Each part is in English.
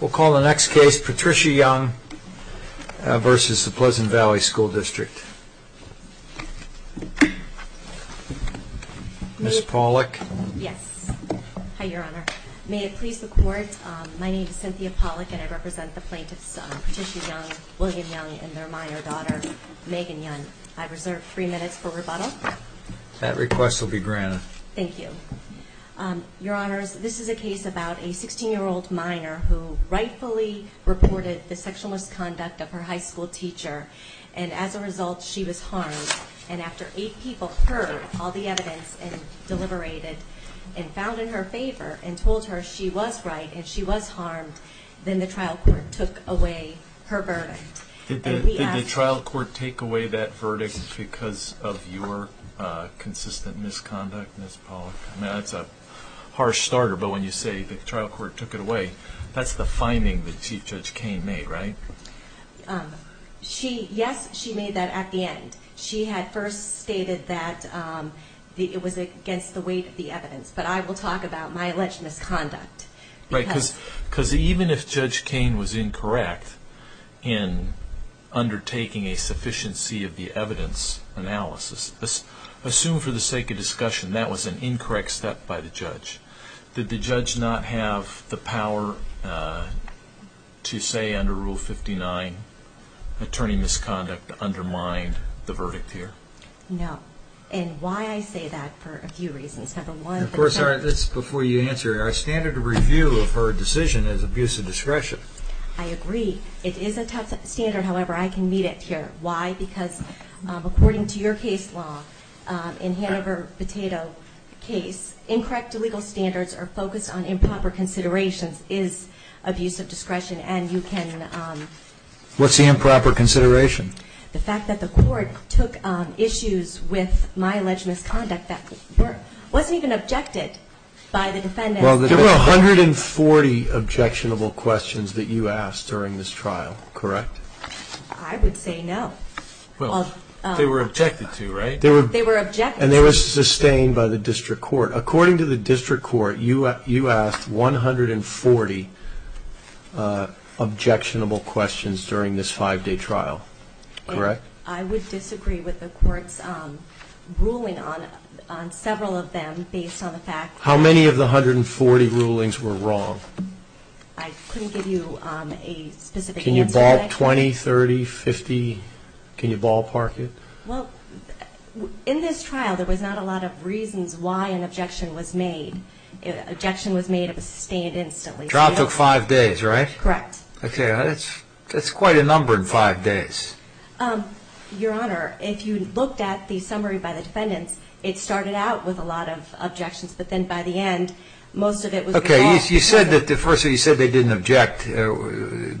We'll call the next case Patricia Young versus the Pleasant Valley School District. Ms. Pollock. Yes, hi your honor. May it please the court, my name is Cynthia Pollock and I represent the plaintiffs Patricia Young, William Young, and their minor daughter, Megan Young. I reserve three minutes for rebuttal. That request will be granted. Thank you. Your honors, this is a case about a 16 year old minor who rightfully reported the sexual misconduct of her high school teacher and as a result she was harmed and after eight people heard all the evidence and deliberated and found in her favor and told her she was right and she was harmed, then the trial court took away her verdict. Did the trial court take away that verdict because of your consistent misconduct, Ms. Pollock? That's a harsh starter, but when you say the trial court took it away, that's the finding that Chief Judge Kain made, right? Yes, she made that at the end. She had first stated that it was against the weight of the evidence, but I will talk about my alleged misconduct. Because even if Judge Kain was incorrect in undertaking a sufficiency of the verdict, assume for the sake of discussion that was an incorrect step by the judge. Did the judge not have the power to say under Rule 59, attorney misconduct undermined the verdict here? No. And why I say that for a few reasons. Of course, before you answer, our standard review of her decision is abuse of discretion. I agree. It is a tough standard, however, I can meet it here. Why? Because according to your case law, in Hanover-Potato case, incorrect legal standards are focused on improper considerations, is abuse of discretion, and you can... What's the improper consideration? The fact that the court took issues with my alleged misconduct that wasn't even objected by the defendant. Well, there were 140 objectionable questions that you asked during this trial, correct? I would say no. Well, they were objected to, right? They were objected to. And they were sustained by the district court. According to the district court, you asked 140 objectionable questions during this five-day trial, correct? And I would disagree with the court's ruling on several of them based on the fact that... How many of the 140 rulings were wrong? I couldn't give you a specific answer. Can you ballpark 20, 30, 50? Can you ballpark it? Well, in this trial, there was not a lot of reasons why an objection was made. An objection was made, it was sustained instantly. The trial took five days, right? Correct. Okay, that's quite a number in five days. Your Honor, if you looked at the summary by the defendants, it started out with a lot of objections, but then by the end, most of it was... Okay, you said that the first thing you said, they didn't object,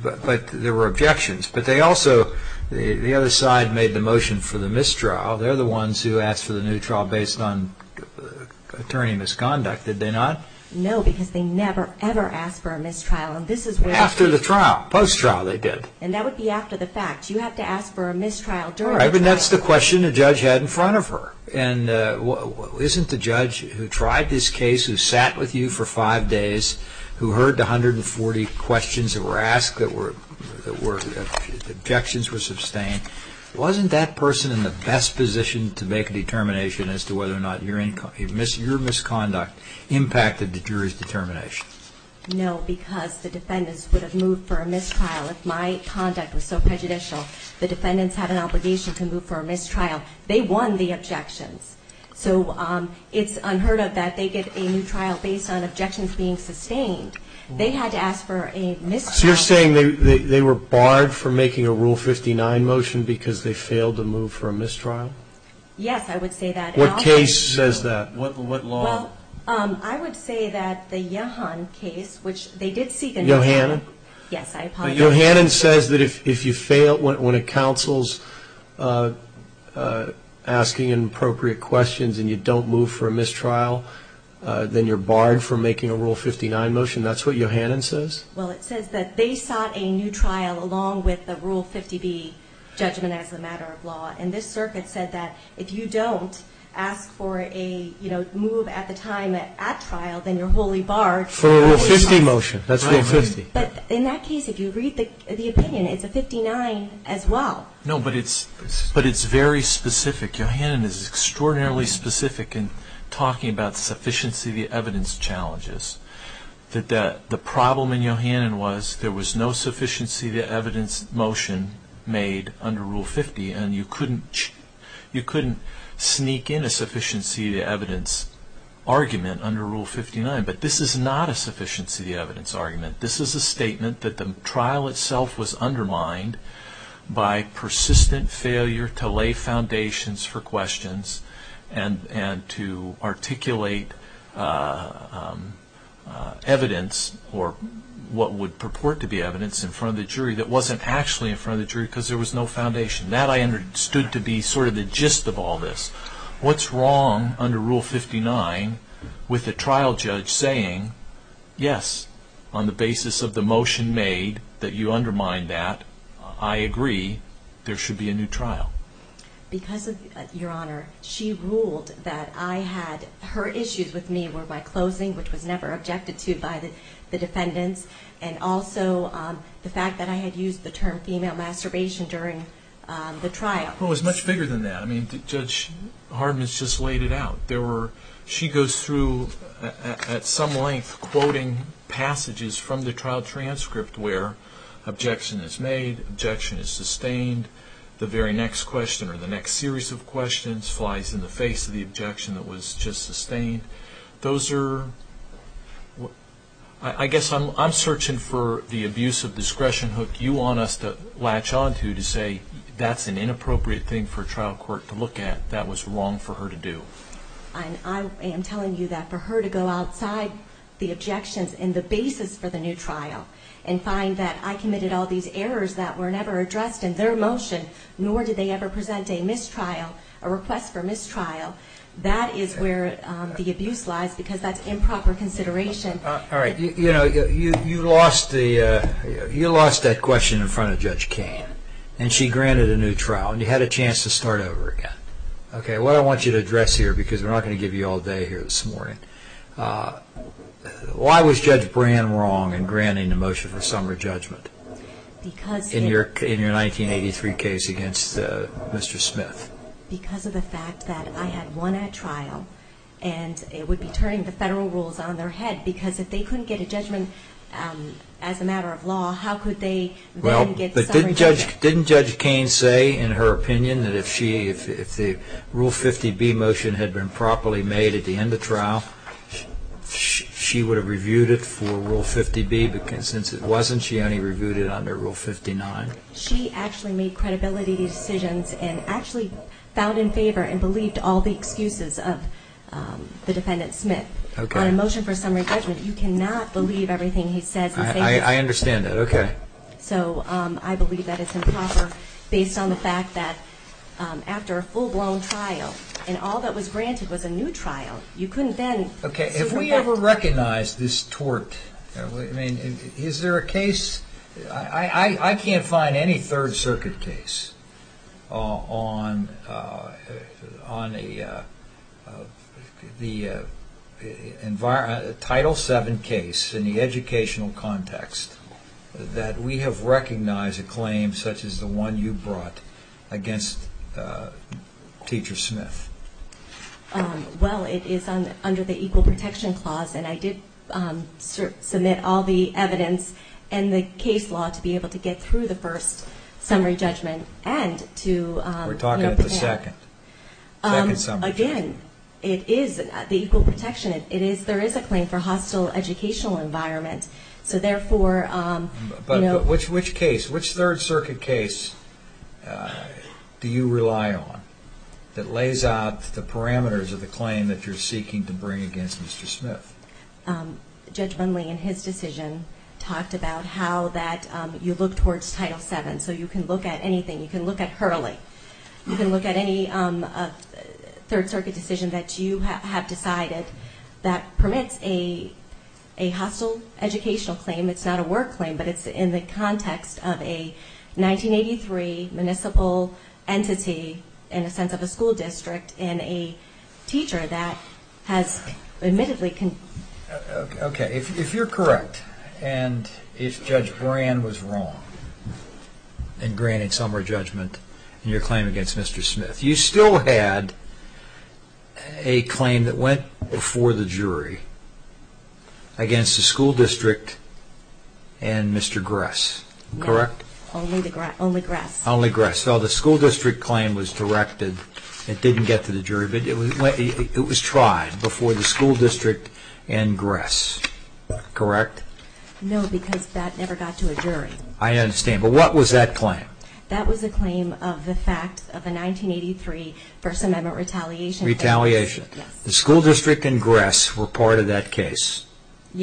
but there were objections. But they also, the other side made the motion for the mistrial. They're the ones who asked for the new trial based on attorney misconduct, did they not? No, because they never, ever asked for a mistrial. And this is where... After the trial, post-trial they did. And that would be after the fact. You have to ask for a mistrial during the trial. All right, but that's the question the judge had in front of her. And isn't the judge who tried this case, who sat with you for five days, who heard the 140 questions that were asked, that were... Objections were sustained. Wasn't that person in the best position to make a determination as to whether or not your misconduct impacted the jury's determination? No, because the defendants would have moved for a mistrial if my conduct was so prejudicial. The defendants had an obligation to move for a mistrial. They won the objections. So it's unheard of that they get a new trial based on objections being sustained. They had to ask for a mistrial. So you're saying they were barred from making a Rule 59 motion because they failed to move for a mistrial? Yes, I would say that. What case says that? What law? Well, I would say that the Yehan case, which they did seek a new trial. Yohanan? Yes, I apologize. Yohanan says that if you fail when a counsel's asking inappropriate questions and you don't move for a mistrial, then you're barred from making a Rule 59 motion. That's what Yohanan says? Well, it says that they sought a new trial along with the Rule 50B judgment as a matter of law. And this circuit said that if you don't ask for a move at the time at trial, then you're wholly barred from... For a Rule 50 motion. That's Rule 50. But in that case, if you read the opinion, it's a 59 as well. No, but it's very specific. Yohanan is extraordinarily specific in talking about sufficiency of the evidence challenges. The problem in Yohanan was there was no sufficiency of the evidence motion made under Rule 50 and you couldn't sneak in a sufficiency of the evidence argument under Rule 59. But this is not a sufficiency of the evidence argument. This is a statement that the trial itself was undermined by persistent failure to lay foundations for questions and to articulate evidence or what would purport to be evidence in front of the jury that wasn't actually in front of the jury because there was no foundation. That I understood to be sort of the gist of all this. What's wrong under Rule 59 with the trial judge saying, yes, on the basis of the motion made that you undermined that, I agree, there should be a new trial? Because, Your Honor, she ruled that I had... Her issues with me were my closing, which was never objected to by the defendants, and also the fact that I had used the term female masturbation during the trial. Well, it was much bigger than that. I mean, Judge Hardman has just laid it out. She goes through, at some length, quoting passages from the trial transcript where objection is made, objection is sustained, the very next question or the next series of questions flies in the face of the objection that was just sustained. Those are... I guess I'm searching for the abuse of discretion hook you want us to latch on to to say that's an inappropriate thing for a trial court to look at that was wrong for her to do. I am telling you that for her to go outside the objections and the basis for the new trial and find that I committed all these errors that were never addressed in their motion, nor did they ever present a mistrial, a request for mistrial, that is where the abuse lies because that's improper consideration. All right. You lost that question in front of Judge Kain, and she granted a new trial, and you had a chance to start over again. Okay, what I want you to address here, because we're not going to give you all day here this morning, why was Judge Brand wrong in granting the motion for summer judgment in your 1983 case against Mr. Smith? Because of the fact that I had won at trial, and it would be turning the federal rules on their head because if they couldn't get a judgment as a matter of law, how could they then get summer judgment? Didn't Judge Kain say in her opinion that if the Rule 50B motion had been properly made at the end of trial, she would have reviewed it for Rule 50B? Because since it wasn't, she only reviewed it under Rule 59. She actually made credibility decisions and actually found in favor and believed all the excuses of the defendant, Smith. On a motion for summer judgment, you cannot believe everything he says. I understand that, okay. So I believe that it's improper based on the fact that after a full-blown trial, and all that was granted was a new trial, you couldn't then— Okay, if we ever recognize this tort, is there a case— I can't find any Third Circuit case on the Title VII case in the educational context that we have recognized a claim such as the one you brought against Teacher Smith. Well, it is under the Equal Protection Clause, and I did submit all the evidence and the case law to be able to get through the first summary judgment and to— We're talking about the second. Again, it is the Equal Protection. There is a claim for hostile educational environment, so therefore— But which case, which Third Circuit case do you rely on that lays out the parameters of the claim that you're seeking to bring against Mr. Smith? Judge Bundley, in his decision, talked about how that you look towards Title VII, so you can look at anything. You can look at Hurley. You can look at any Third Circuit decision that you have decided that permits a hostile educational claim. It's not a work claim, but it's in the context of a 1983 municipal entity, in a sense of a school district, and a teacher that has admittedly— Okay, if you're correct, and if Judge Brand was wrong in granting summary judgment in your claim against Mr. Smith, you still had a claim that went before the jury against the school district and Mr. Gress, correct? No, only Gress. Only Gress. So the school district claim was directed—it didn't get to the jury, but it was tried before the school district and Gress, correct? No, because that never got to a jury. I understand, but what was that claim? That was a claim of the fact of a 1983 First Amendment retaliation case. Retaliation. Yes. The school district and Gress were part of that case,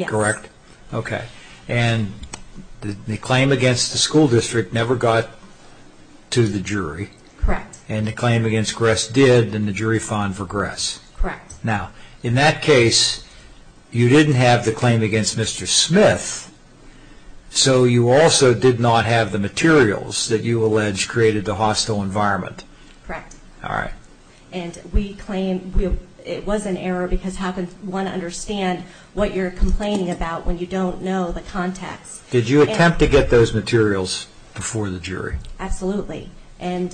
correct? Yes. Okay, and the claim against the school district never got to the jury. Correct. And the claim against Gress did, and the jury fined for Gress. Correct. Now, in that case, you didn't have the claim against Mr. Smith, so you also did not have the materials that you allege created the hostile environment. Correct. All right. And we claim it was an error because how can one understand what you're complaining about when you don't know the context? Did you attempt to get those materials before the jury? Absolutely. And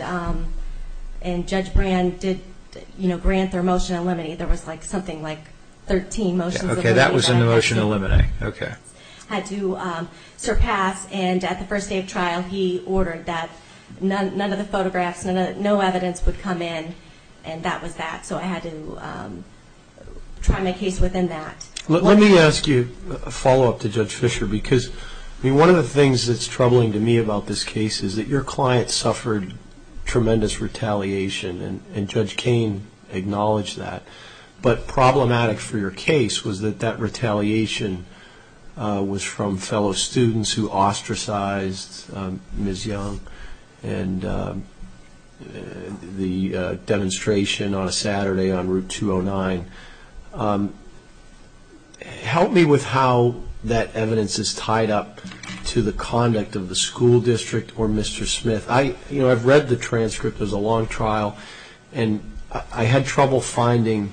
Judge Brand did grant their motion to eliminate. There was something like 13 motions. Okay, that was in the motion to eliminate. Okay. Had to surpass, and at the first day of trial, he ordered that none of the photographs, no evidence would come in, and that was that. So I had to try my case within that. Let me ask you a follow-up to Judge Fisher because, I mean, one of the things that's troubling to me about this case is that your client suffered tremendous retaliation, and Judge Cain acknowledged that, but problematic for your case was that that retaliation was from fellow students who ostracized Ms. Young and the demonstration on a Saturday on Route 209. Help me with how that evidence is tied up to the conduct of the school district or Mr. Smith. You know, I've read the transcript. It was a long trial, and I had trouble finding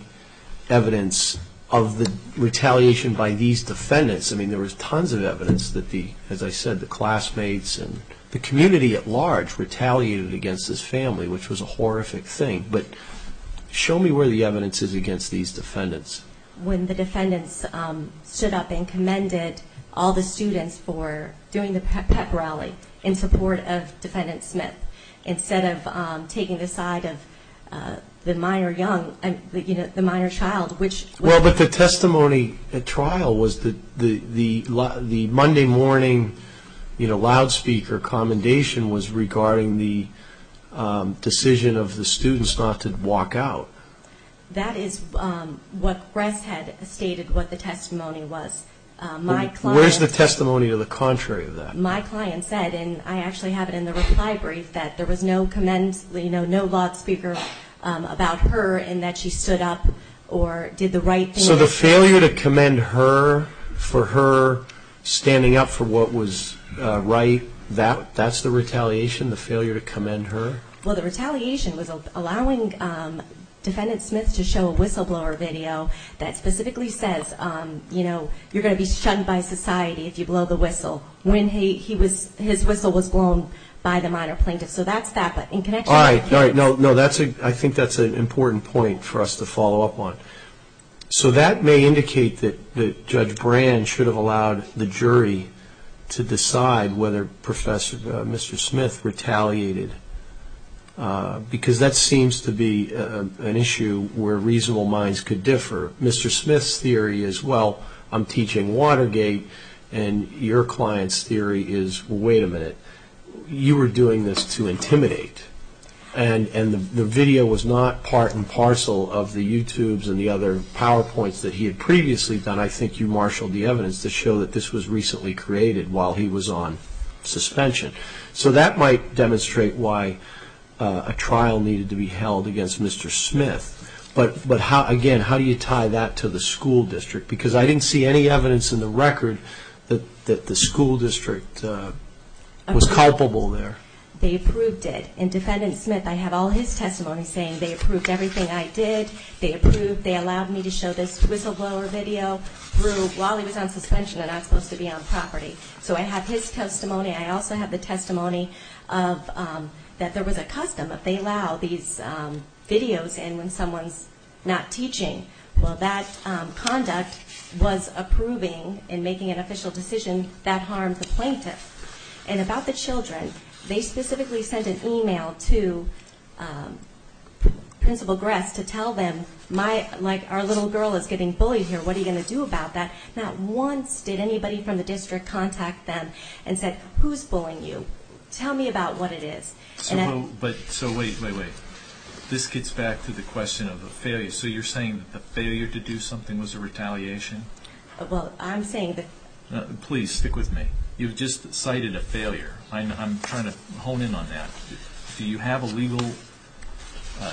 evidence of the retaliation by these defendants. I mean, there was tons of evidence that the, as I said, the classmates and the community at large retaliated against this family, which was a horrific thing. But show me where the evidence is against these defendants. When the defendants stood up and commended all the students for doing the pep rally in support of Defendant Smith, instead of taking the side of the minor young, the minor child, which was But the testimony at trial was the Monday morning, you know, loudspeaker commendation was regarding the decision of the students not to walk out. That is what Gress had stated what the testimony was. Where's the testimony to the contrary of that? My client said, and I actually have it in the reply brief, that there was no comment, you know, loudspeaker about her and that she stood up or did the right thing. So the failure to commend her for her standing up for what was right, that's the retaliation, the failure to commend her? Well, the retaliation was allowing Defendant Smith to show a whistleblower video that specifically says, you know, you're going to be shunned by society if you blow the whistle when his whistle was blown by the minor plaintiff. All right. No, I think that's an important point for us to follow up on. So that may indicate that Judge Brand should have allowed the jury to decide whether Mr. Smith retaliated, because that seems to be an issue where reasonable minds could differ. Mr. Smith's theory is, well, I'm teaching Watergate, and your client's theory is, wait a minute, you were doing this to intimidate, and the video was not part and parcel of the YouTubes and the other PowerPoints that he had previously done. I think you marshaled the evidence to show that this was recently created while he was on suspension. So that might demonstrate why a trial needed to be held against Mr. Smith. But, again, how do you tie that to the school district? Because I didn't see any evidence in the record that the school district was culpable there. They approved it. And Defendant Smith, I have all his testimony saying they approved everything I did. They approved, they allowed me to show this whistleblower video while he was on suspension and not supposed to be on property. So I have his testimony. I also have the testimony that there was a custom that they allow these videos in when someone's not teaching. Well, that conduct was approving and making an official decision that harmed the plaintiff. And about the children, they specifically sent an email to Principal Gress to tell them, like, our little girl is getting bullied here, what are you going to do about that? Not once did anybody from the district contact them and said, who's bullying you? Tell me about what it is. So wait, wait, wait. This gets back to the question of the failure. Okay, so you're saying that the failure to do something was a retaliation? Well, I'm saying that... Please, stick with me. You've just cited a failure. I'm trying to hone in on that. Do you have a legal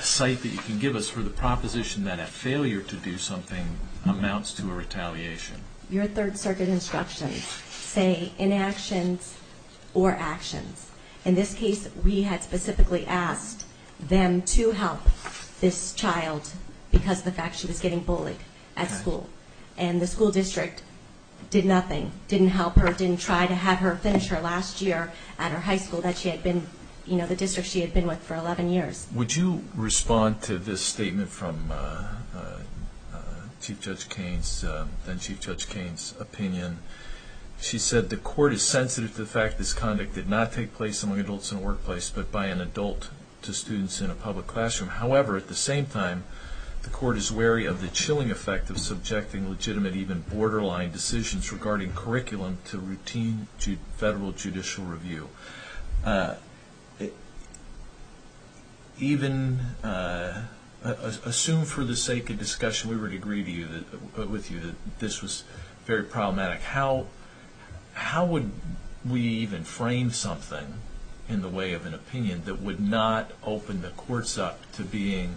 cite that you can give us for the proposition that a failure to do something amounts to a retaliation? Your Third Circuit instructions say inactions or actions. In this case, we had specifically asked them to help this child because of the fact she was getting bullied at school. And the school district did nothing, didn't help her, didn't try to have her finish her last year at her high school that she had been, you know, the district she had been with for 11 years. Would you respond to this statement from Chief Judge Cain's opinion? She said the court is sensitive to the fact this conduct did not take place among adults in a workplace, but by an adult to students in a public classroom. However, at the same time, the court is wary of the chilling effect of subjecting legitimate, even borderline decisions regarding curriculum to routine federal judicial review. Even... Assume for the sake of discussion, we would agree with you that this was very problematic. How would we even frame something in the way of an opinion that would not open the courts up to being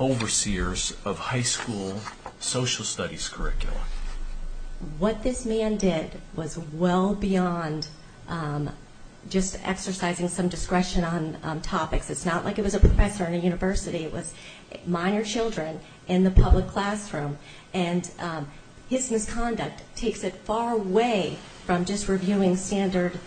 overseers of high school social studies curriculum? What this man did was well beyond just exercising some discretion on topics. It's not like it was a professor in a university. It was minor children in the public classroom, and his misconduct takes it far away from just reviewing standard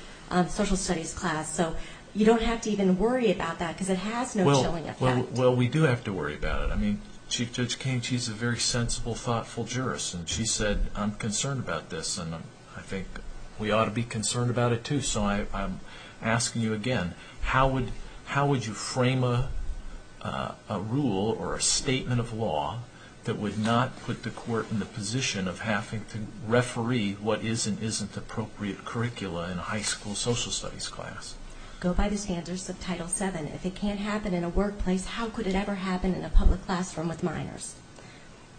social studies class. So you don't have to even worry about that because it has no chilling effect. Well, we do have to worry about it. I mean, Chief Judge Cain, she's a very sensible, thoughtful jurist, and she said, I'm concerned about this, and I think we ought to be concerned about it too. So I'm asking you again, how would you frame a rule or a statement of law that would not put the court in the position of having to referee what is and isn't appropriate curricula in high school social studies class? Go by the standards of Title VII. If it can't happen in a workplace, how could it ever happen in a public classroom with minors?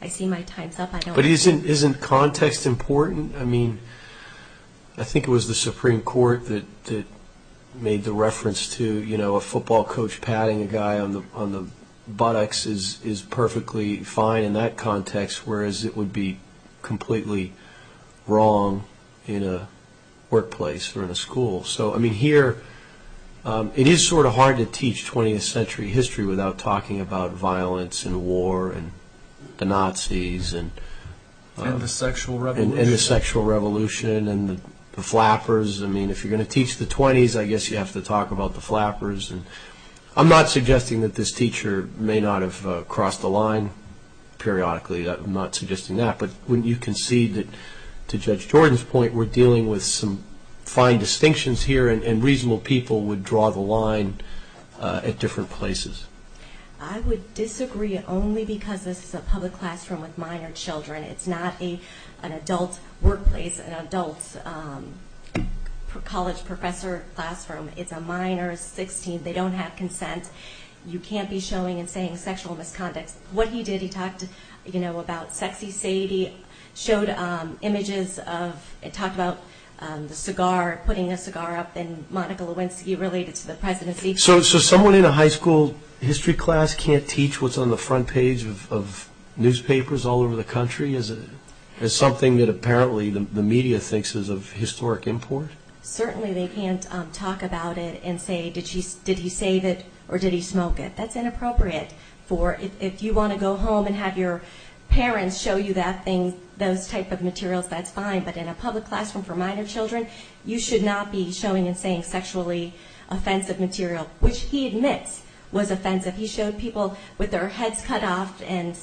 I see my time's up. But isn't context important? I mean, I think it was the Supreme Court that made the reference to, you know, a football coach patting a guy on the buttocks is perfectly fine in that context, whereas it would be completely wrong in a workplace or in a school. So, I mean, here it is sort of hard to teach 20th century history without talking about violence and war and the Nazis and the sexual revolution and the flappers. I mean, if you're going to teach the 20s, I guess you have to talk about the flappers. I'm not suggesting that this teacher may not have crossed the line periodically. I'm not suggesting that. But you can see that, to Judge Jordan's point, we're dealing with some fine distinctions here, and reasonable people would draw the line at different places. I would disagree only because this is a public classroom with minor children. It's not an adult workplace, an adult college professor classroom. It's a minor 16. They don't have consent. You can't be showing and saying sexual misconduct. What he did, he talked, you know, about sexy Sadie, showed images of, talked about the cigar, putting a cigar up, and Monica Lewinsky related to the presidency. So someone in a high school history class can't teach what's on the front page of newspapers all over the country as something that apparently the media thinks is of historic import? Certainly they can't talk about it and say, did he save it or did he smoke it? That's inappropriate. If you want to go home and have your parents show you those type of materials, that's fine. But in a public classroom for minor children, you should not be showing and saying sexually offensive material, which he admits was offensive. He showed people with their heads cut off and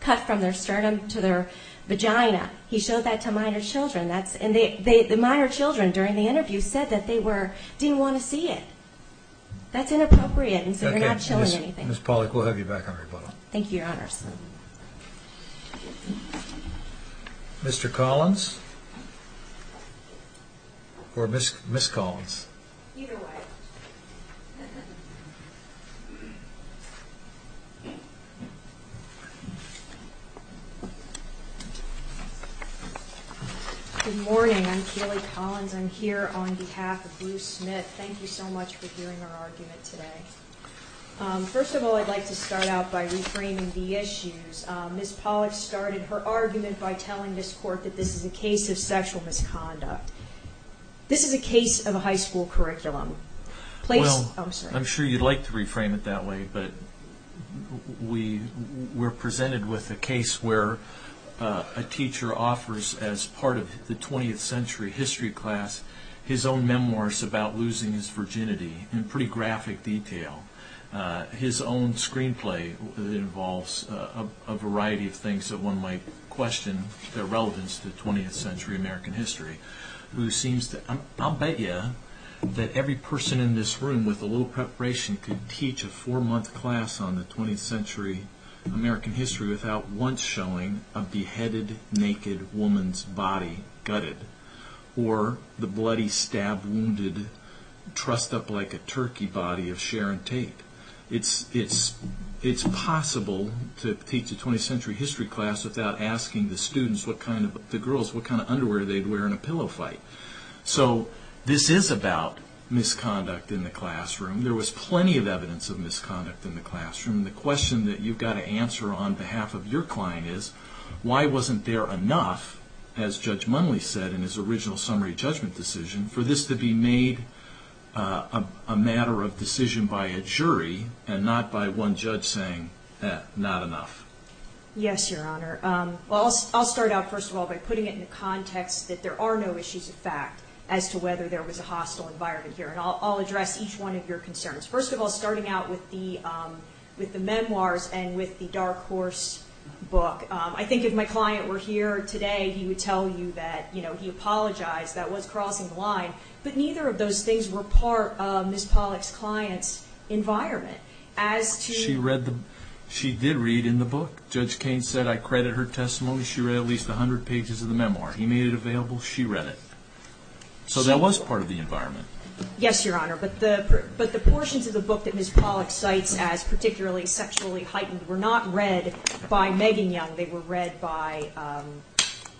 cut from their sternum to their vagina. He showed that to minor children. And the minor children during the interview said that they didn't want to see it. That's inappropriate, and so they're not showing anything. Ms. Pollack, we'll have you back on rebuttal. Thank you, Your Honors. Mr. Collins or Ms. Collins? Either way. Good morning. I'm Keely Collins. I'm here on behalf of Bruce Smith. Thank you so much for hearing our argument today. First of all, I'd like to start out by reframing the issues. Ms. Pollack started her argument by telling this Court that this is a case of sexual misconduct. This is a case of a high school curriculum. I'm sure you'd like to reframe it that way, but we're presented with a case where a teacher offers, as part of the 20th century history class, his own memoirs about losing his virginity in pretty graphic detail, his own screenplay that involves a variety of things that one might question their relevance to 20th century American history. I'll bet you that every person in this room with a little preparation could teach a four-month class on the 20th century American history without once showing a beheaded, naked woman's body gutted or the bloody, stab-wounded, trussed-up-like-a-turkey body of Sharon Tate. It's possible to teach a 20th century history class without asking the girls what kind of underwear they'd wear in a pillow fight. So this is about misconduct in the classroom. There was plenty of evidence of misconduct in the classroom. The question that you've got to answer on behalf of your client is, why wasn't there enough, as Judge Munley said in his original summary judgment decision, for this to be made a matter of decision by a jury and not by one judge saying, eh, not enough? Yes, Your Honor. I'll start out, first of all, by putting it in the context that there are no issues of fact as to whether there was a hostile environment here, and I'll address each one of your concerns. First of all, starting out with the memoirs and with the Dark Horse book, I think if my client were here today, he would tell you that he apologized. That was crossing the line. But neither of those things were part of Ms. Pollack's client's environment. She did read in the book. Judge Cain said, I credit her testimony. She read at least 100 pages of the memoir. He made it available. She read it. So that was part of the environment. Yes, Your Honor. But the portions of the book that Ms. Pollack cites as particularly sexually heightened were not read by Megan Young. They were read by...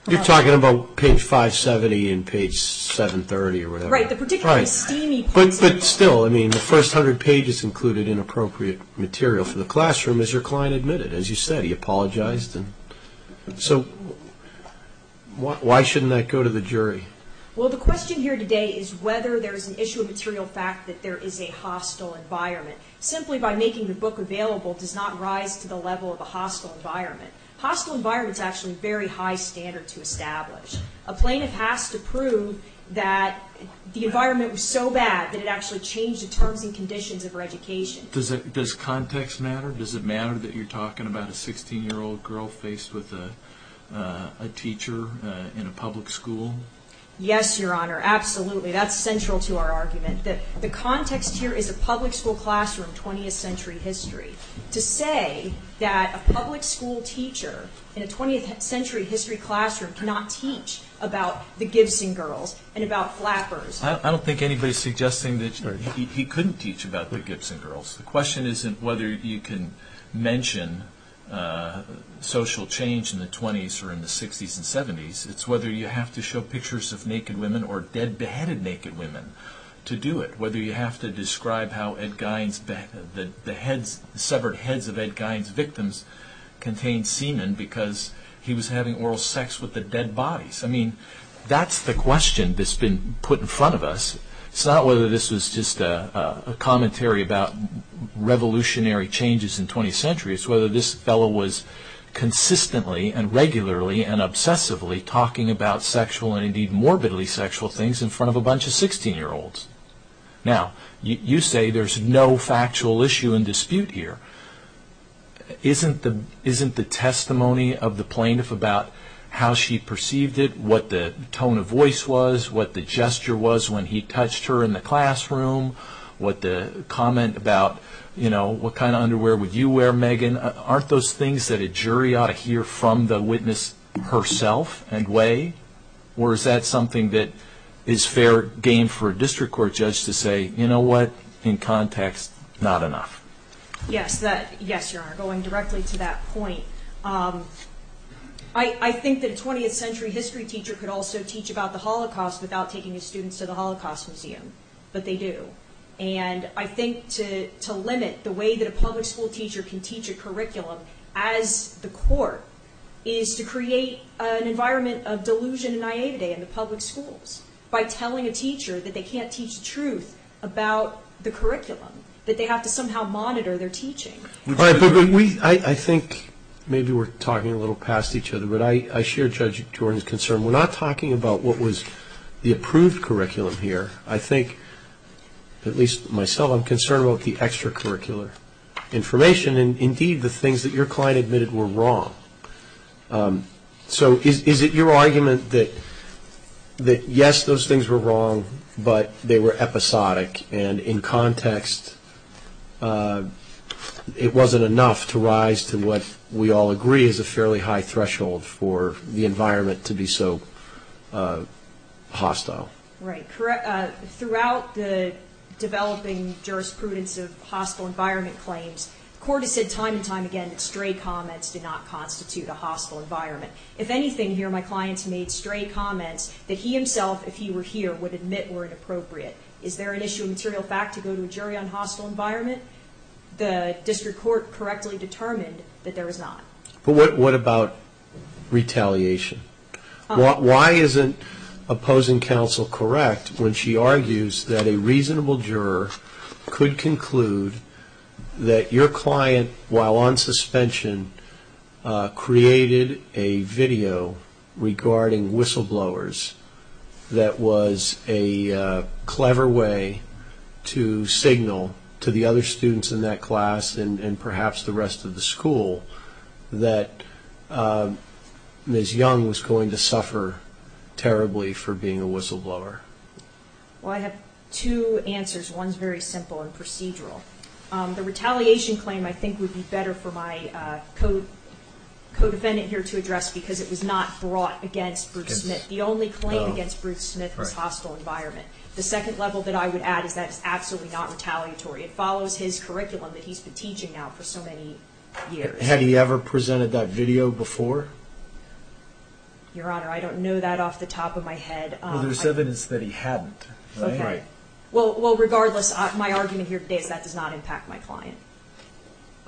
You're talking about page 570 and page 730 or whatever. Right, the particularly steamy parts. But still, I mean, the first 100 pages included inappropriate material for the classroom, as your client admitted. As you said, he apologized. So why shouldn't that go to the jury? Well, the question here today is whether there is an issue of material fact that there is a hostile environment. Simply by making the book available does not rise to the level of a hostile environment. A hostile environment is actually a very high standard to establish. A plaintiff has to prove that the environment was so bad that it actually changed the terms and conditions of her education. Does context matter? Does it matter that you're talking about a 16-year-old girl faced with a teacher in a public school? That's central to our argument. The context here is a public school classroom, 20th century history. To say that a public school teacher in a 20th century history classroom cannot teach about the Gibson girls and about flappers... I don't think anybody's suggesting that he couldn't teach about the Gibson girls. The question isn't whether you can mention social change in the 20s or in the 60s and 70s. It's whether you have to show pictures of naked women or dead, beheaded naked women to do it. Whether you have to describe how the severed heads of Ed Gein's victims contained semen because he was having oral sex with the dead bodies. That's the question that's been put in front of us. It's not whether this was just a commentary about revolutionary changes in the 20th century. It's whether this fellow was consistently and regularly and obsessively talking about sexual and indeed morbidly sexual things in front of a bunch of 16-year-olds. Now, you say there's no factual issue in dispute here. Isn't the testimony of the plaintiff about how she perceived it, what the tone of voice was, what the gesture was when he touched her in the classroom, what the comment about, you know, what kind of underwear would you wear, Megan? Aren't those things that a jury ought to hear from the witness herself and weigh? Or is that something that is fair game for a district court judge to say, you know what, in context, not enough? Yes, you are going directly to that point. I think that a 20th century history teacher could also teach about the Holocaust without taking his students to the Holocaust Museum, but they do. And I think to limit the way that a public school teacher can teach a curriculum as the court is to create an environment of delusion and naivety in the public schools by telling a teacher that they can't teach the truth about the curriculum, that they have to somehow monitor their teaching. I think maybe we're talking a little past each other, but I share Judge Jordan's concern. We're not talking about what was the approved curriculum here. I think, at least myself, I'm concerned about the extracurricular information and indeed the things that your client admitted were wrong. So is it your argument that yes, those things were wrong, but they were episodic, and in context it wasn't enough to rise to what we all agree is a fairly high threshold for the environment to be so hostile? Right. Throughout the developing jurisprudence of hostile environment claims, the court has said time and time again that stray comments do not constitute a hostile environment. If anything here, my clients made stray comments that he himself, if he were here, would admit were inappropriate. Is there an issue of material fact to go to a jury on hostile environment? The district court correctly determined that there was not. But what about retaliation? Why isn't opposing counsel correct when she argues that a reasonable juror could conclude that your client, while on suspension, created a video regarding whistleblowers that was a clever way to signal to the other students in that class and perhaps the rest of the school that Ms. Young was going to suffer terribly for being a whistleblower? Well, I have two answers. One's very simple and procedural. The retaliation claim I think would be better for my co-defendant here to address because it was not brought against Bruce Smith. The only claim against Bruce Smith was hostile environment. The second level that I would add is that it's absolutely not retaliatory. It follows his curriculum that he's been teaching now for so many years. Had he ever presented that video before? Your Honor, I don't know that off the top of my head. Well, there's evidence that he hadn't, right? Right. Well, regardless, my argument here today is that does not impact my client.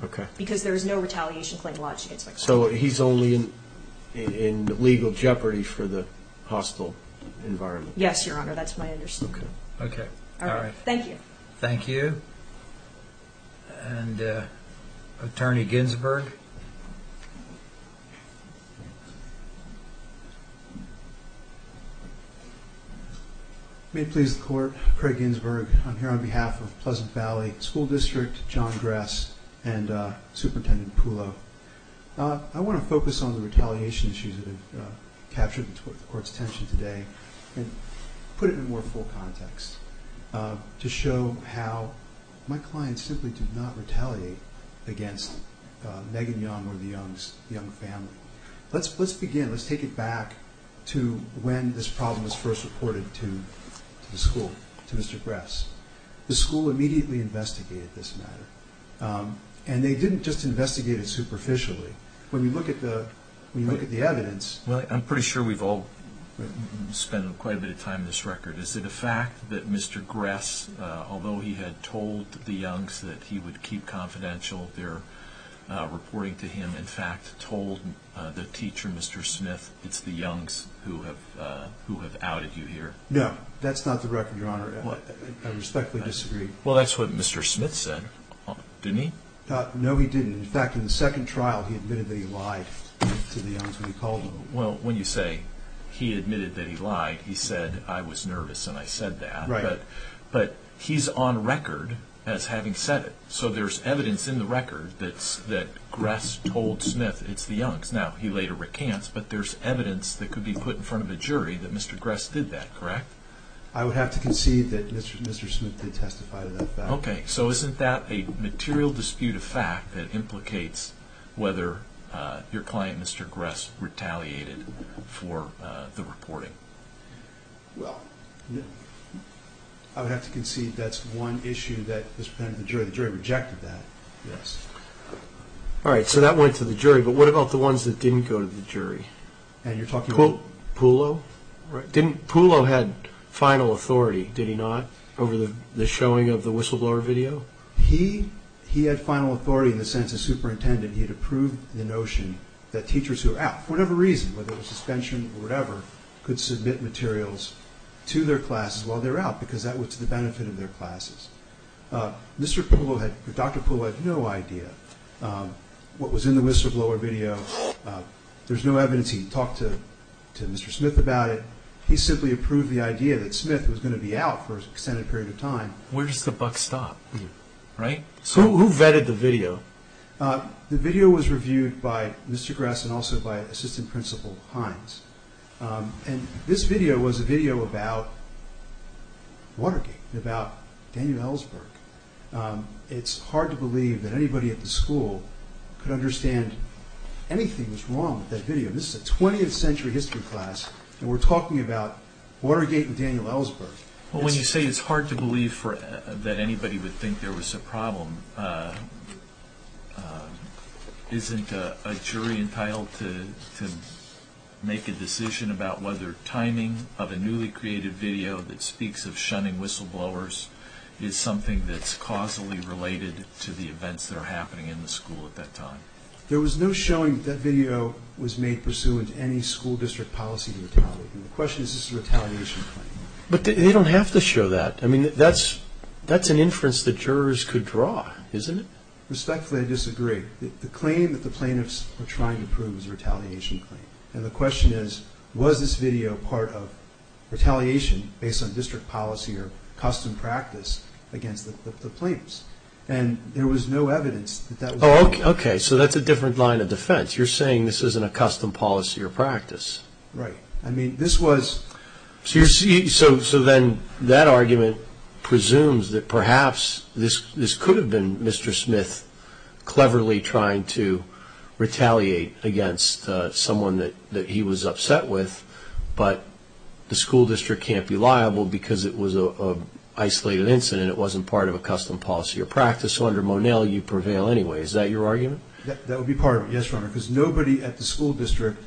Okay. Because there is no retaliation claim lodged against my client. So he's only in legal jeopardy for the hostile environment. Yes, Your Honor, that's my understanding. Okay. All right. Thank you. Thank you. And Attorney Ginsberg. May it please the Court, Craig Ginsberg. I'm here on behalf of Pleasant Valley School District, John Dress, and Superintendent Pulo. I want to focus on the retaliation issues that have captured the Court's attention today and put it in more full context to show how my client simply did not retaliate against Megan Young or the Young family. Let's begin. Let's take it back to when this problem was first reported to the school, to Mr. Dress. The school immediately investigated this matter. And they didn't just investigate it superficially. When you look at the evidence. Well, I'm pretty sure we've all spent quite a bit of time on this record. Is it a fact that Mr. Dress, although he had told the Youngs that he would keep confidential, their reporting to him in fact told the teacher, Mr. Smith, it's the Youngs who have outed you here? No, that's not the record, Your Honor. I respectfully disagree. Well, that's what Mr. Smith said, didn't he? No, he didn't. In fact, in the second trial, he admitted that he lied to the Youngs when he called them. Well, when you say he admitted that he lied, he said, I was nervous and I said that. Right. But he's on record as having said it. So there's evidence in the record that Dress told Smith it's the Youngs. Now, he later recants, but there's evidence that could be put in front of a jury that Mr. Dress did that, correct? I would have to concede that Mr. Smith did testify to that fact. Okay. So isn't that a material dispute of fact that implicates whether your client, Mr. Dress, retaliated for the reporting? Well, I would have to concede that's one issue that was presented to the jury. The jury rejected that, yes. All right. So that went to the jury. But what about the ones that didn't go to the jury? And you're talking about? Pulo? Right. Pulo had final authority, did he not, over the showing of the whistleblower video? He had final authority in the sense of superintendent. He had approved the notion that teachers who are out, for whatever reason, whether it was suspension or whatever, could submit materials to their classes while they're out because that was to the benefit of their classes. Mr. Pulo, Dr. Pulo had no idea what was in the whistleblower video. There's no evidence. He talked to Mr. Smith about it. He simply approved the idea that Smith was going to be out for an extended period of time. Where does the buck stop? Right? Who vetted the video? The video was reviewed by Mr. Dress and also by Assistant Principal Hines. And this video was a video about Watergate, about Daniel Ellsberg. It's hard to believe that anybody at the school could understand anything was wrong with that video. This is a 20th century history class, and we're talking about Watergate and Daniel Ellsberg. Well, when you say it's hard to believe that anybody would think there was a problem, isn't a jury entitled to make a decision about whether timing of a newly created video that speaks of shunning whistleblowers is something that's causally related to the events that are happening in the school at that time? There was no showing that video was made pursuant to any school district policy to retaliate. And the question is, is this a retaliation claim? But they don't have to show that. I mean, that's an inference that jurors could draw, isn't it? Respectfully, I disagree. The claim that the plaintiffs were trying to prove is a retaliation claim. And the question is, was this video part of retaliation based on district policy or custom practice against the plaintiffs? And there was no evidence that that was the case. Oh, okay. So that's a different line of defense. You're saying this isn't a custom policy or practice. Right. I mean, this was... So then that argument presumes that perhaps this could have been Mr. Smith cleverly trying to retaliate against someone that he was upset with, but the school district can't be liable because it was an isolated incident. It wasn't part of a custom policy or practice. So under Monell, you prevail anyway. Is that your argument? That would be part of it, yes, Your Honor, because nobody at the school district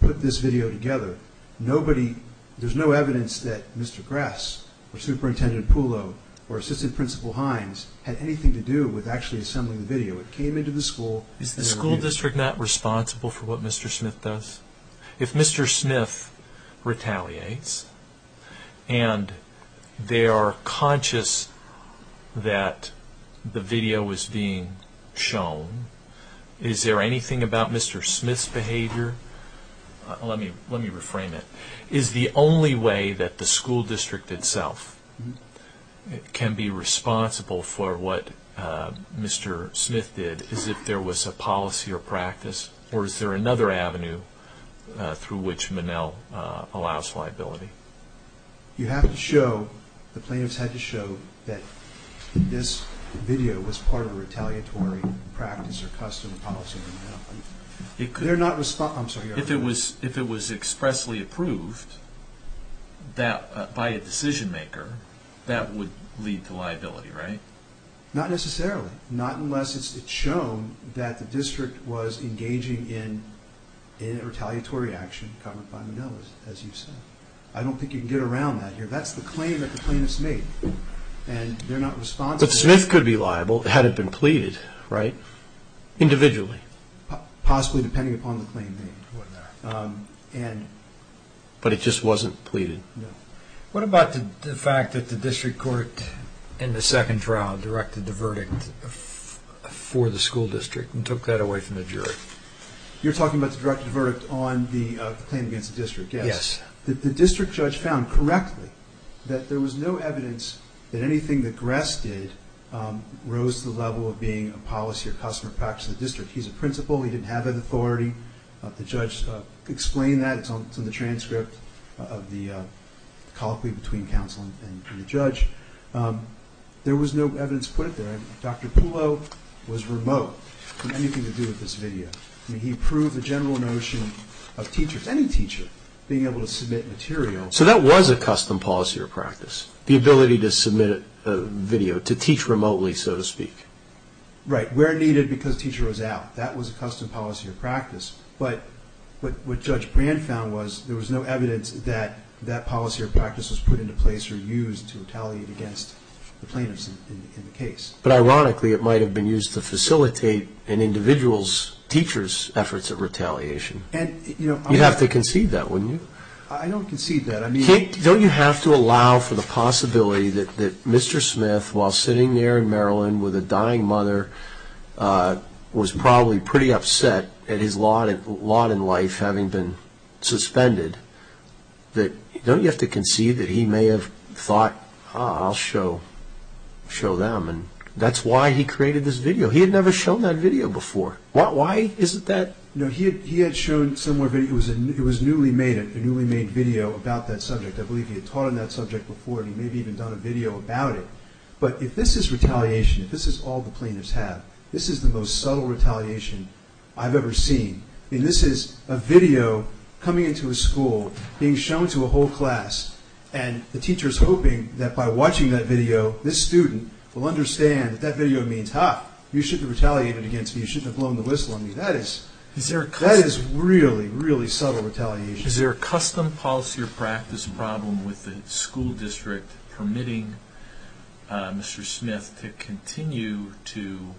put this video together. Nobody... There's no evidence that Mr. Grass or Superintendent Pulo or Assistant Principal Hines had anything to do with actually assembling the video. It came into the school... Is the school district not responsible for what Mr. Smith does? If Mr. Smith retaliates and they are conscious that the video was being shown, is there anything about Mr. Smith's behavior? Let me reframe it. Is the only way that the school district itself can be responsible for what Mr. Smith did is if there was a policy or practice, or is there another avenue through which Monell allows liability? You have to show... The plaintiffs had to show that this video was part of a retaliatory practice or custom policy. They're not... I'm sorry. If it was expressly approved by a decision maker, that would lead to liability, right? Not necessarily. Not unless it's shown that the district was engaging in a retaliatory action covered by Monell, as you said. I don't think you can get around that here. That's the claim that the plaintiffs made, and they're not responsible... But Smith could be liable had it been pleaded, right? Individually. Possibly, depending upon the claim made. But it just wasn't pleaded? No. What about the fact that the district court in the second trial directed the verdict for the school district and took that away from the jury? You're talking about the directed verdict on the claim against the district, yes? Yes. The district judge found correctly that there was no evidence that anything that Gress did rose to the level of being a policy or customer practice in the district. He's a principal. He didn't have that authority. The judge explained that. It's on the transcript of the colloquy between counsel and the judge. There was no evidence put there. Dr. Pulo was remote from anything to do with this video. I mean, he proved the general notion of teachers, any teacher, being able to submit material. So that was a custom policy or practice, the ability to submit a video, to teach remotely, so to speak? Right, where needed because teacher was out. That was a custom policy or practice. But what Judge Brand found was there was no evidence that that policy or practice was put into place or used to retaliate against the plaintiffs in the case. But ironically, it might have been used to facilitate an individual's teacher's efforts of retaliation. You'd have to concede that, wouldn't you? I don't concede that. Don't you have to allow for the possibility that Mr. Smith, while sitting there in Maryland with a dying mother, was probably pretty upset at his lot in life having been suspended? Don't you have to concede that he may have thought, ah, I'll show them? That's why he created this video. He had never shown that video before. Why is it that? He had shown somewhere, it was newly made, a newly made video about that subject. I believe he had taught on that subject before and maybe even done a video about it. But if this is retaliation, if this is all the plaintiffs have, this is the most subtle retaliation I've ever seen. This is a video coming into a school, being shown to a whole class, and the teacher is hoping that by watching that video, this student will understand that that video means, ah, you shouldn't have retaliated against me, you shouldn't have blown the whistle on me. That is really, really subtle retaliation. Is there a custom, policy, or practice problem with the school district permitting Mr. Smith to continue to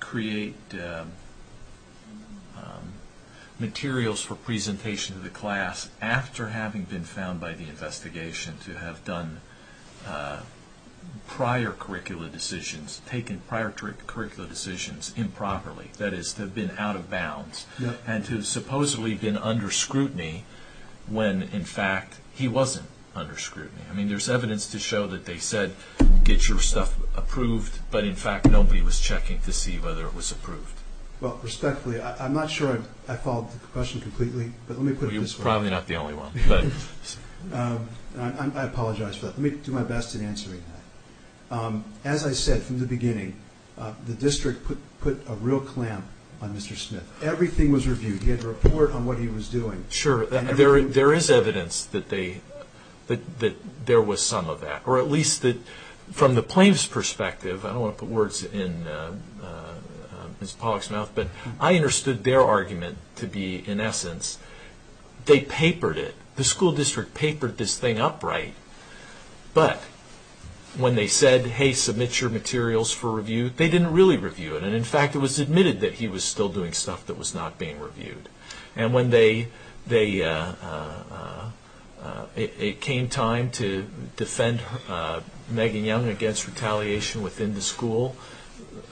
create materials for presentation to the class after having been found by the investigation to have done prior curricula decisions, taken prior curricula decisions improperly, that is to have been out of bounds, and to have supposedly been under scrutiny when in fact he wasn't under scrutiny. I mean, there's evidence to show that they said, get your stuff approved, but in fact nobody was checking to see whether it was approved. Well, respectfully, I'm not sure I followed the question completely, but let me put it this way. Well, you're probably not the only one. I apologize for that. Let me do my best in answering that. As I said from the beginning, the district put a real clamp on Mr. Smith. Everything was reviewed. He had to report on what he was doing. Sure, there is evidence that there was some of that, or at least that from the plaintiff's perspective, I don't want to put words in Ms. Pollack's mouth, but I understood their argument to be, in essence, they papered it. The school district papered this thing upright, but when they said, hey, submit your materials for review, they didn't really review it, and in fact it was admitted that he was still doing stuff that was not being reviewed. And when it came time to defend Megan Young against retaliation within the school,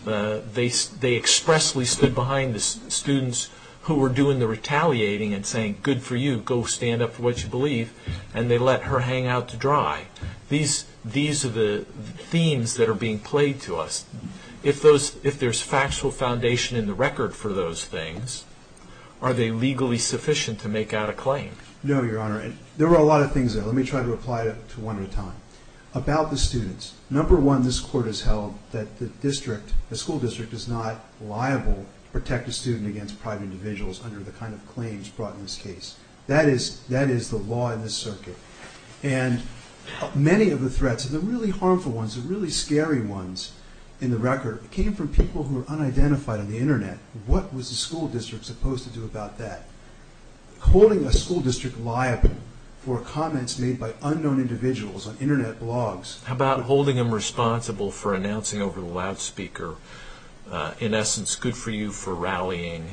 they expressly stood behind the students who were doing the retaliating and saying, good for you, go stand up for what you believe, and they let her hang out to dry. These are the themes that are being played to us. If there's factual foundation in the record for those things, are they legally sufficient to make out a claim? No, Your Honor. There were a lot of things there. Let me try to apply it to one at a time. About the students, number one, this Court has held that the school district is not liable to protect a student against private individuals under the kind of claims brought in this case. That is the law in this circuit. And many of the threats, the really harmful ones, the really scary ones in the record, came from people who were unidentified on the Internet. What was the school district supposed to do about that? Holding a school district liable for comments made by unknown individuals on Internet blogs... How about holding them responsible for announcing over the loudspeaker, in essence, good for you for rallying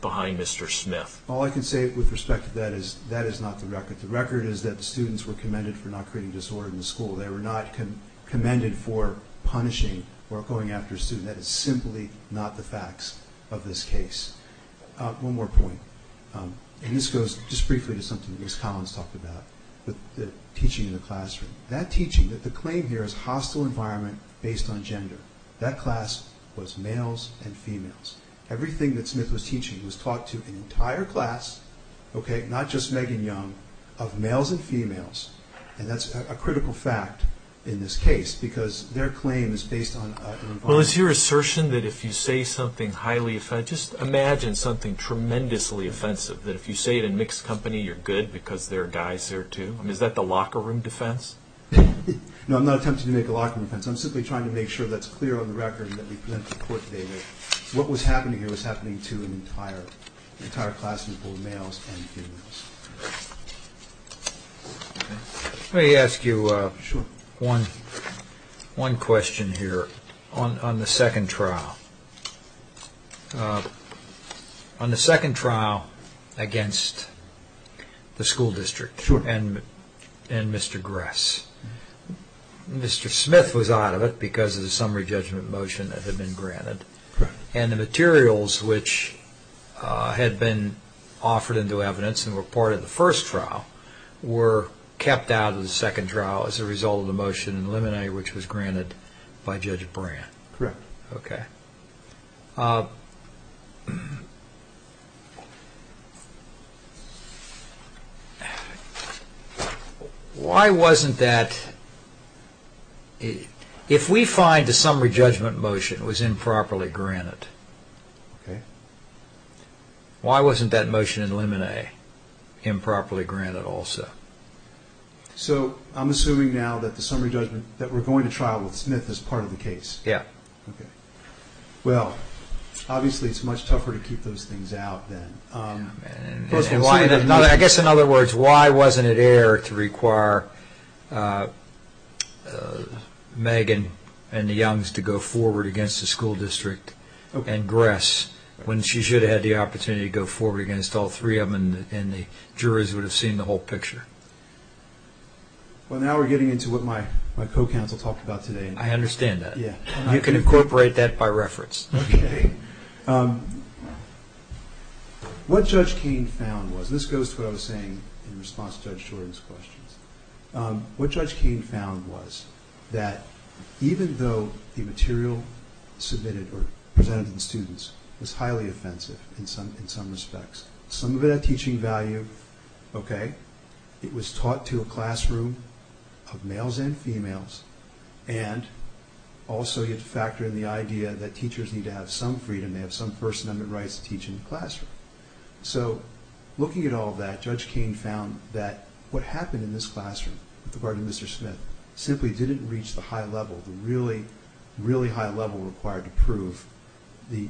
behind Mr. Smith? All I can say with respect to that is that is not the record. The record is that the students were commended for not creating disorder in the school. They were not commended for punishing or going after a student. That is simply not the facts of this case. One more point, and this goes just briefly to something Ms. Collins talked about, with the teaching in the classroom. That teaching, the claim here is hostile environment based on gender. That class was males and females. Everything that Smith was teaching was taught to an entire class, not just Megan Young, of males and females, and that is a critical fact in this case, because their claim is based on an environment... Well, is your assertion that if you say something highly offensive... Just imagine something tremendously offensive, that if you say it in mixed company you're good because there are guys there too? I mean, is that the locker room defense? No, I'm not attempting to make a locker room defense. I'm simply trying to make sure that's clear on the record that we present the report today that what was happening here was happening to an entire class of both males and females. Let me ask you one question here on the second trial. On the second trial against the school district and Mr. Gress, Mr. Smith was out of it because of the summary judgment motion that had been granted, and the materials which had been offered into evidence and were part of the first trial were kept out of the second trial as a result of the motion in the limine which was granted by Judge Brandt. Correct. Okay. Why wasn't that... If we find the summary judgment motion was improperly granted, why wasn't that motion in limine improperly granted also? So I'm assuming now that the summary judgment that we're going to trial with Smith is part of the case? Yeah. Okay. Well, obviously it's much tougher to keep those things out then. I guess in other words, why wasn't it air to require Megan and the Youngs to go forward against the school district and Gress when she should have had the opportunity to go forward against all three of them and the juries would have seen the whole picture? Well, now we're getting into what my co-counsel talked about today. I understand that. Yeah. You can incorporate that by reference. Okay. What Judge Kain found was, this goes to what I was saying in response to Judge Jordan's questions, what Judge Kain found was that even though the material submitted or presented to the students was highly offensive in some respects, some of it had teaching value, okay, it was taught to a classroom of males and females, and also you had to factor in the idea that teachers need to have some freedom, they have some first amendment rights to teach in the classroom. So looking at all that, Judge Kain found that what happened in this classroom with regard to Mr. Smith simply didn't reach the high level, the really, really high level required to prove the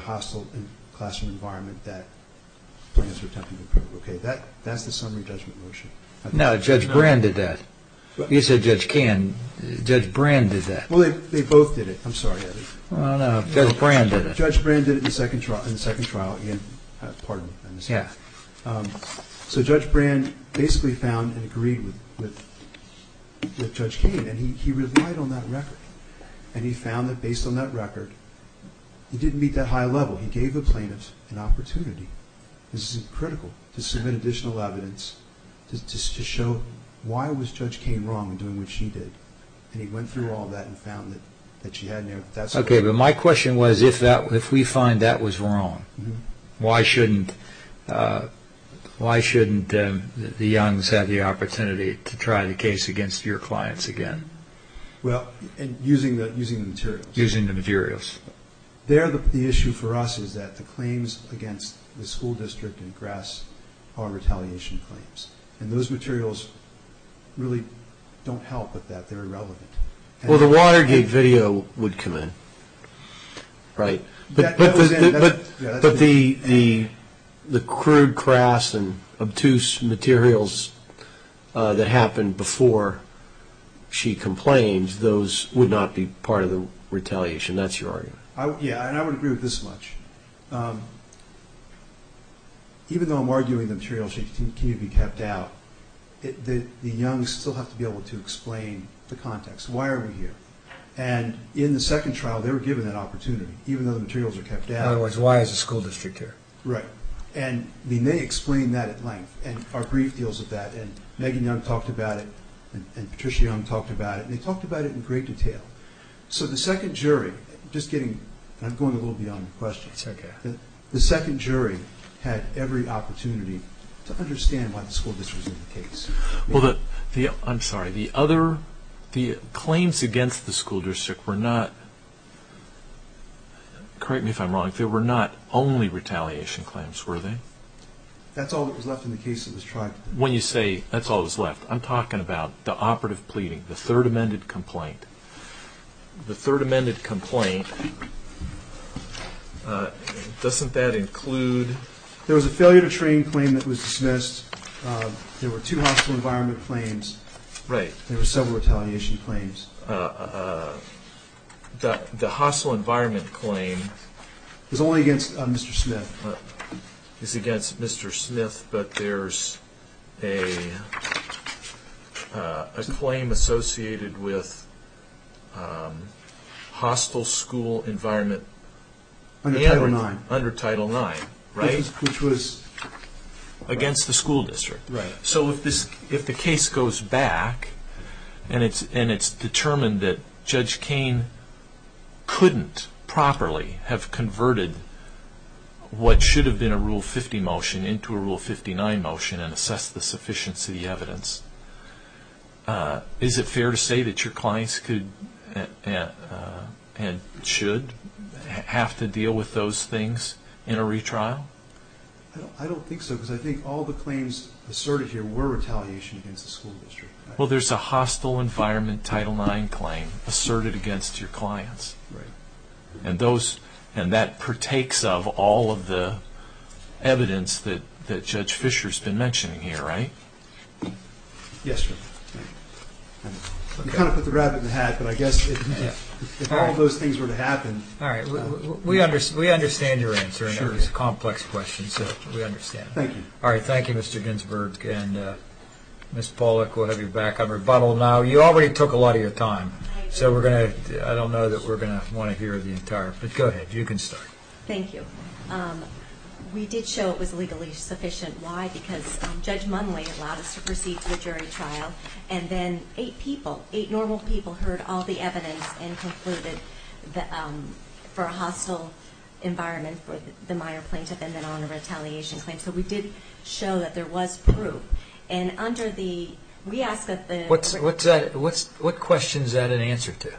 hostile classroom environment that the plaintiffs were attempting to prove. Okay, that's the summary judgment motion. No, Judge Brand did that. You said Judge Kain. Judge Brand did that. Well, they both did it. I'm sorry, Eddie. No, no, Judge Brand did it. Judge Brand did it in the second trial, pardon me. Yeah. So Judge Brand basically found and agreed with Judge Kain, and he relied on that record, and he found that based on that record, he didn't meet that high level. He gave the plaintiffs an opportunity, this is critical, to submit additional evidence to show why was Judge Kain wrong in doing what she did, and he went through all that and found that she had an impact. Okay, but my question was if we find that was wrong, why shouldn't the youngs have the opportunity to try the case against your clients again? Well, using the materials. Using the materials. The issue for us is that the claims against the school district in Grass are retaliation claims, and those materials really don't help with that. They're irrelevant. Well, the Watergate video would come in, right? But the crude, crass, and obtuse materials that happened before she complained, those would not be part of the retaliation. That's your argument. Yeah, and I would agree with this much. Even though I'm arguing the materials need to be kept out, the youngs still have to be able to explain the context. Why are we here? And in the second trial, they were given that opportunity, even though the materials were kept out. Otherwise, why is the school district here? Right. And they explained that at length, and our brief deals with that, and Megan Young talked about it, and Patricia Young talked about it, and they talked about it in great detail. So the second jury, just getting, I'm going a little beyond the question, the second jury had every opportunity to understand why the school district was in the case. Well, I'm sorry, the other, the claims against the school district were not, correct me if I'm wrong, they were not only retaliation claims, were they? That's all that was left in the case that was tried. When you say that's all that was left, I'm talking about the operative pleading, the third amended complaint. The third amended complaint, doesn't that include? There was a failure to train claim that was dismissed. There were two hostile environment claims. Right. There were several retaliation claims. The hostile environment claim. Is only against Mr. Smith. Is against Mr. Smith, but there's a claim associated with hostile school environment. Under Title IX. Under Title IX, right? Which was? Against the school district. Right. So if the case goes back and it's determined that Judge Kain couldn't properly have converted what should have been a Rule 50 motion into a Rule 59 motion and assess the sufficiency of the evidence, is it fair to say that your clients could and should have to deal with those things in a retrial? I don't think so, because I think all the claims asserted here were retaliation against the school district. Well, there's a hostile environment Title IX claim asserted against your clients. Right. And that partakes of all of the evidence that Judge Fisher's been mentioning here, right? Yes, sir. You kind of put the rabbit in the hat, but I guess if all those things were to happen... All right. We understand your answer, and it was a complex question, so we understand. Thank you. All right. Thank you, Mr. Ginsberg. And Ms. Pollock, we'll have you back on rebuttal now. You already took a lot of your time, so I don't know that we're going to want to hear the entire thing. Go ahead. You can start. Thank you. We did show it was legally sufficient. Why? Because Judge Munley allowed us to proceed to a jury trial, and then eight people, eight normal people, heard all the evidence and concluded that for a hostile environment for the Meyer plaintiff and then on a retaliation claim. So we did show that there was proof. And under the... What question is that an answer to?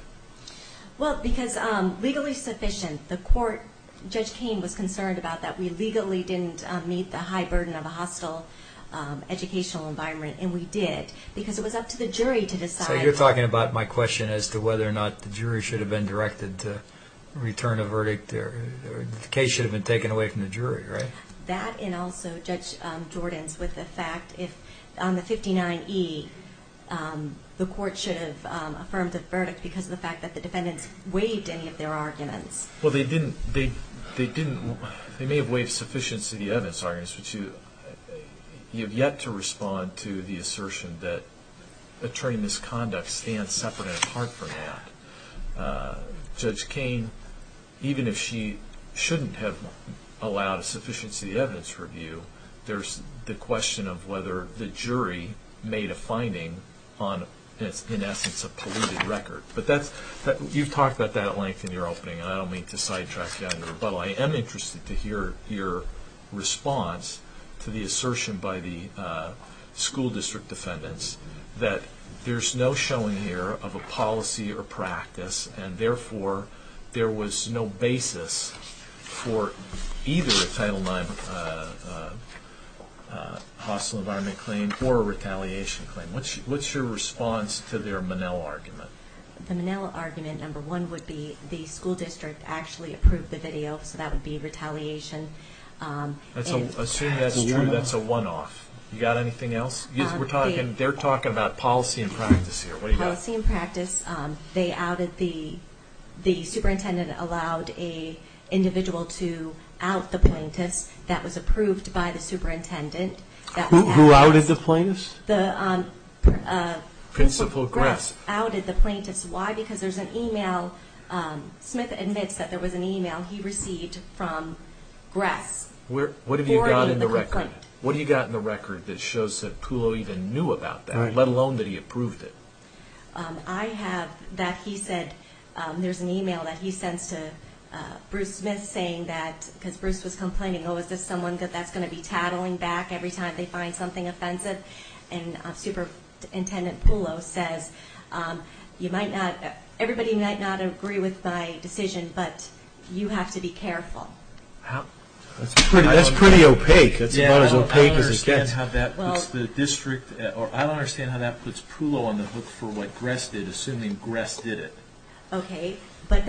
Well, because legally sufficient, the court, Judge Cain was concerned about that. We legally didn't meet the high burden of a hostile educational environment, and we did, because it was up to the jury to decide. So you're talking about my question as to whether or not the jury should have been directed to return a verdict or the case should have been taken away from the jury, right? That and also Judge Jordan's with the fact if on the 59E, the court should have affirmed a verdict because of the fact that the defendants waived any of their arguments. Well, they didn't. They may have waived sufficient of the evidence arguments, but you have yet to respond to the assertion that attorney misconduct stands separate and apart from that. Judge Cain, even if she shouldn't have allowed a sufficiency of the evidence review, there's the question of whether the jury made a finding on, in essence, a polluted record. But you've talked about that at length in your opening, and I don't mean to sidetrack down the rebuttal. I am interested to hear your response to the assertion by the school district defendants that there's no showing here of a policy or practice, and therefore there was no basis for either a Title IX hostile environment claim or a retaliation claim. What's your response to their Monell argument? The Monell argument, number one, would be the school district actually approved the video, so that would be retaliation. Assume that's a one-off. You got anything else? They're talking about policy and practice here. What do you got? Policy and practice. The superintendent allowed an individual to out the plaintiffs. That was approved by the superintendent. Who outed the plaintiffs? Principal Gress. He outed the plaintiffs. Why? Because there's an e-mail. Smith admits that there was an e-mail he received from Gress. What have you got in the record? What do you got in the record that shows that Pulo even knew about that, let alone that he approved it? I have that he said there's an e-mail that he sends to Bruce Smith saying that, because Bruce was complaining, oh, is this someone that's going to be tattling back every time they find something offensive? And Superintendent Pulo says, everybody might not agree with my decision, but you have to be careful. That's pretty opaque. That's about as opaque as it gets. I don't understand how that puts the district, or I don't understand how that puts Pulo on the hook for what Gress did, assuming Gress did it. Okay. But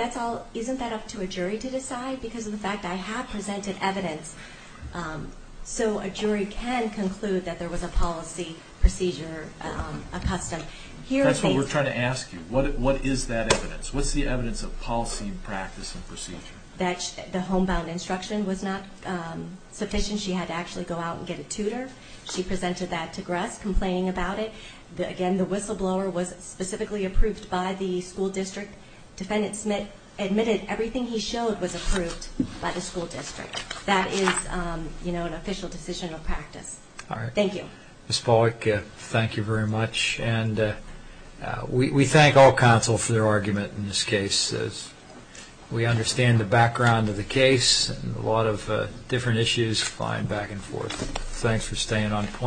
isn't that up to a jury to decide? Because of the fact I have presented evidence. So a jury can conclude that there was a policy procedure accustomed. That's what we're trying to ask you. What is that evidence? What's the evidence of policy, practice, and procedure? That the homebound instruction was not sufficient. She had to actually go out and get a tutor. She presented that to Gress, complaining about it. Again, the whistleblower was specifically approved by the school district. Defendant Smith admitted everything he showed was approved by the school district. That is an official decision of practice. All right. Thank you. Ms. Pawlik, thank you very much. And we thank all counsel for their argument in this case. We understand the background of the case and a lot of different issues flying back and forth. Thanks for staying on point.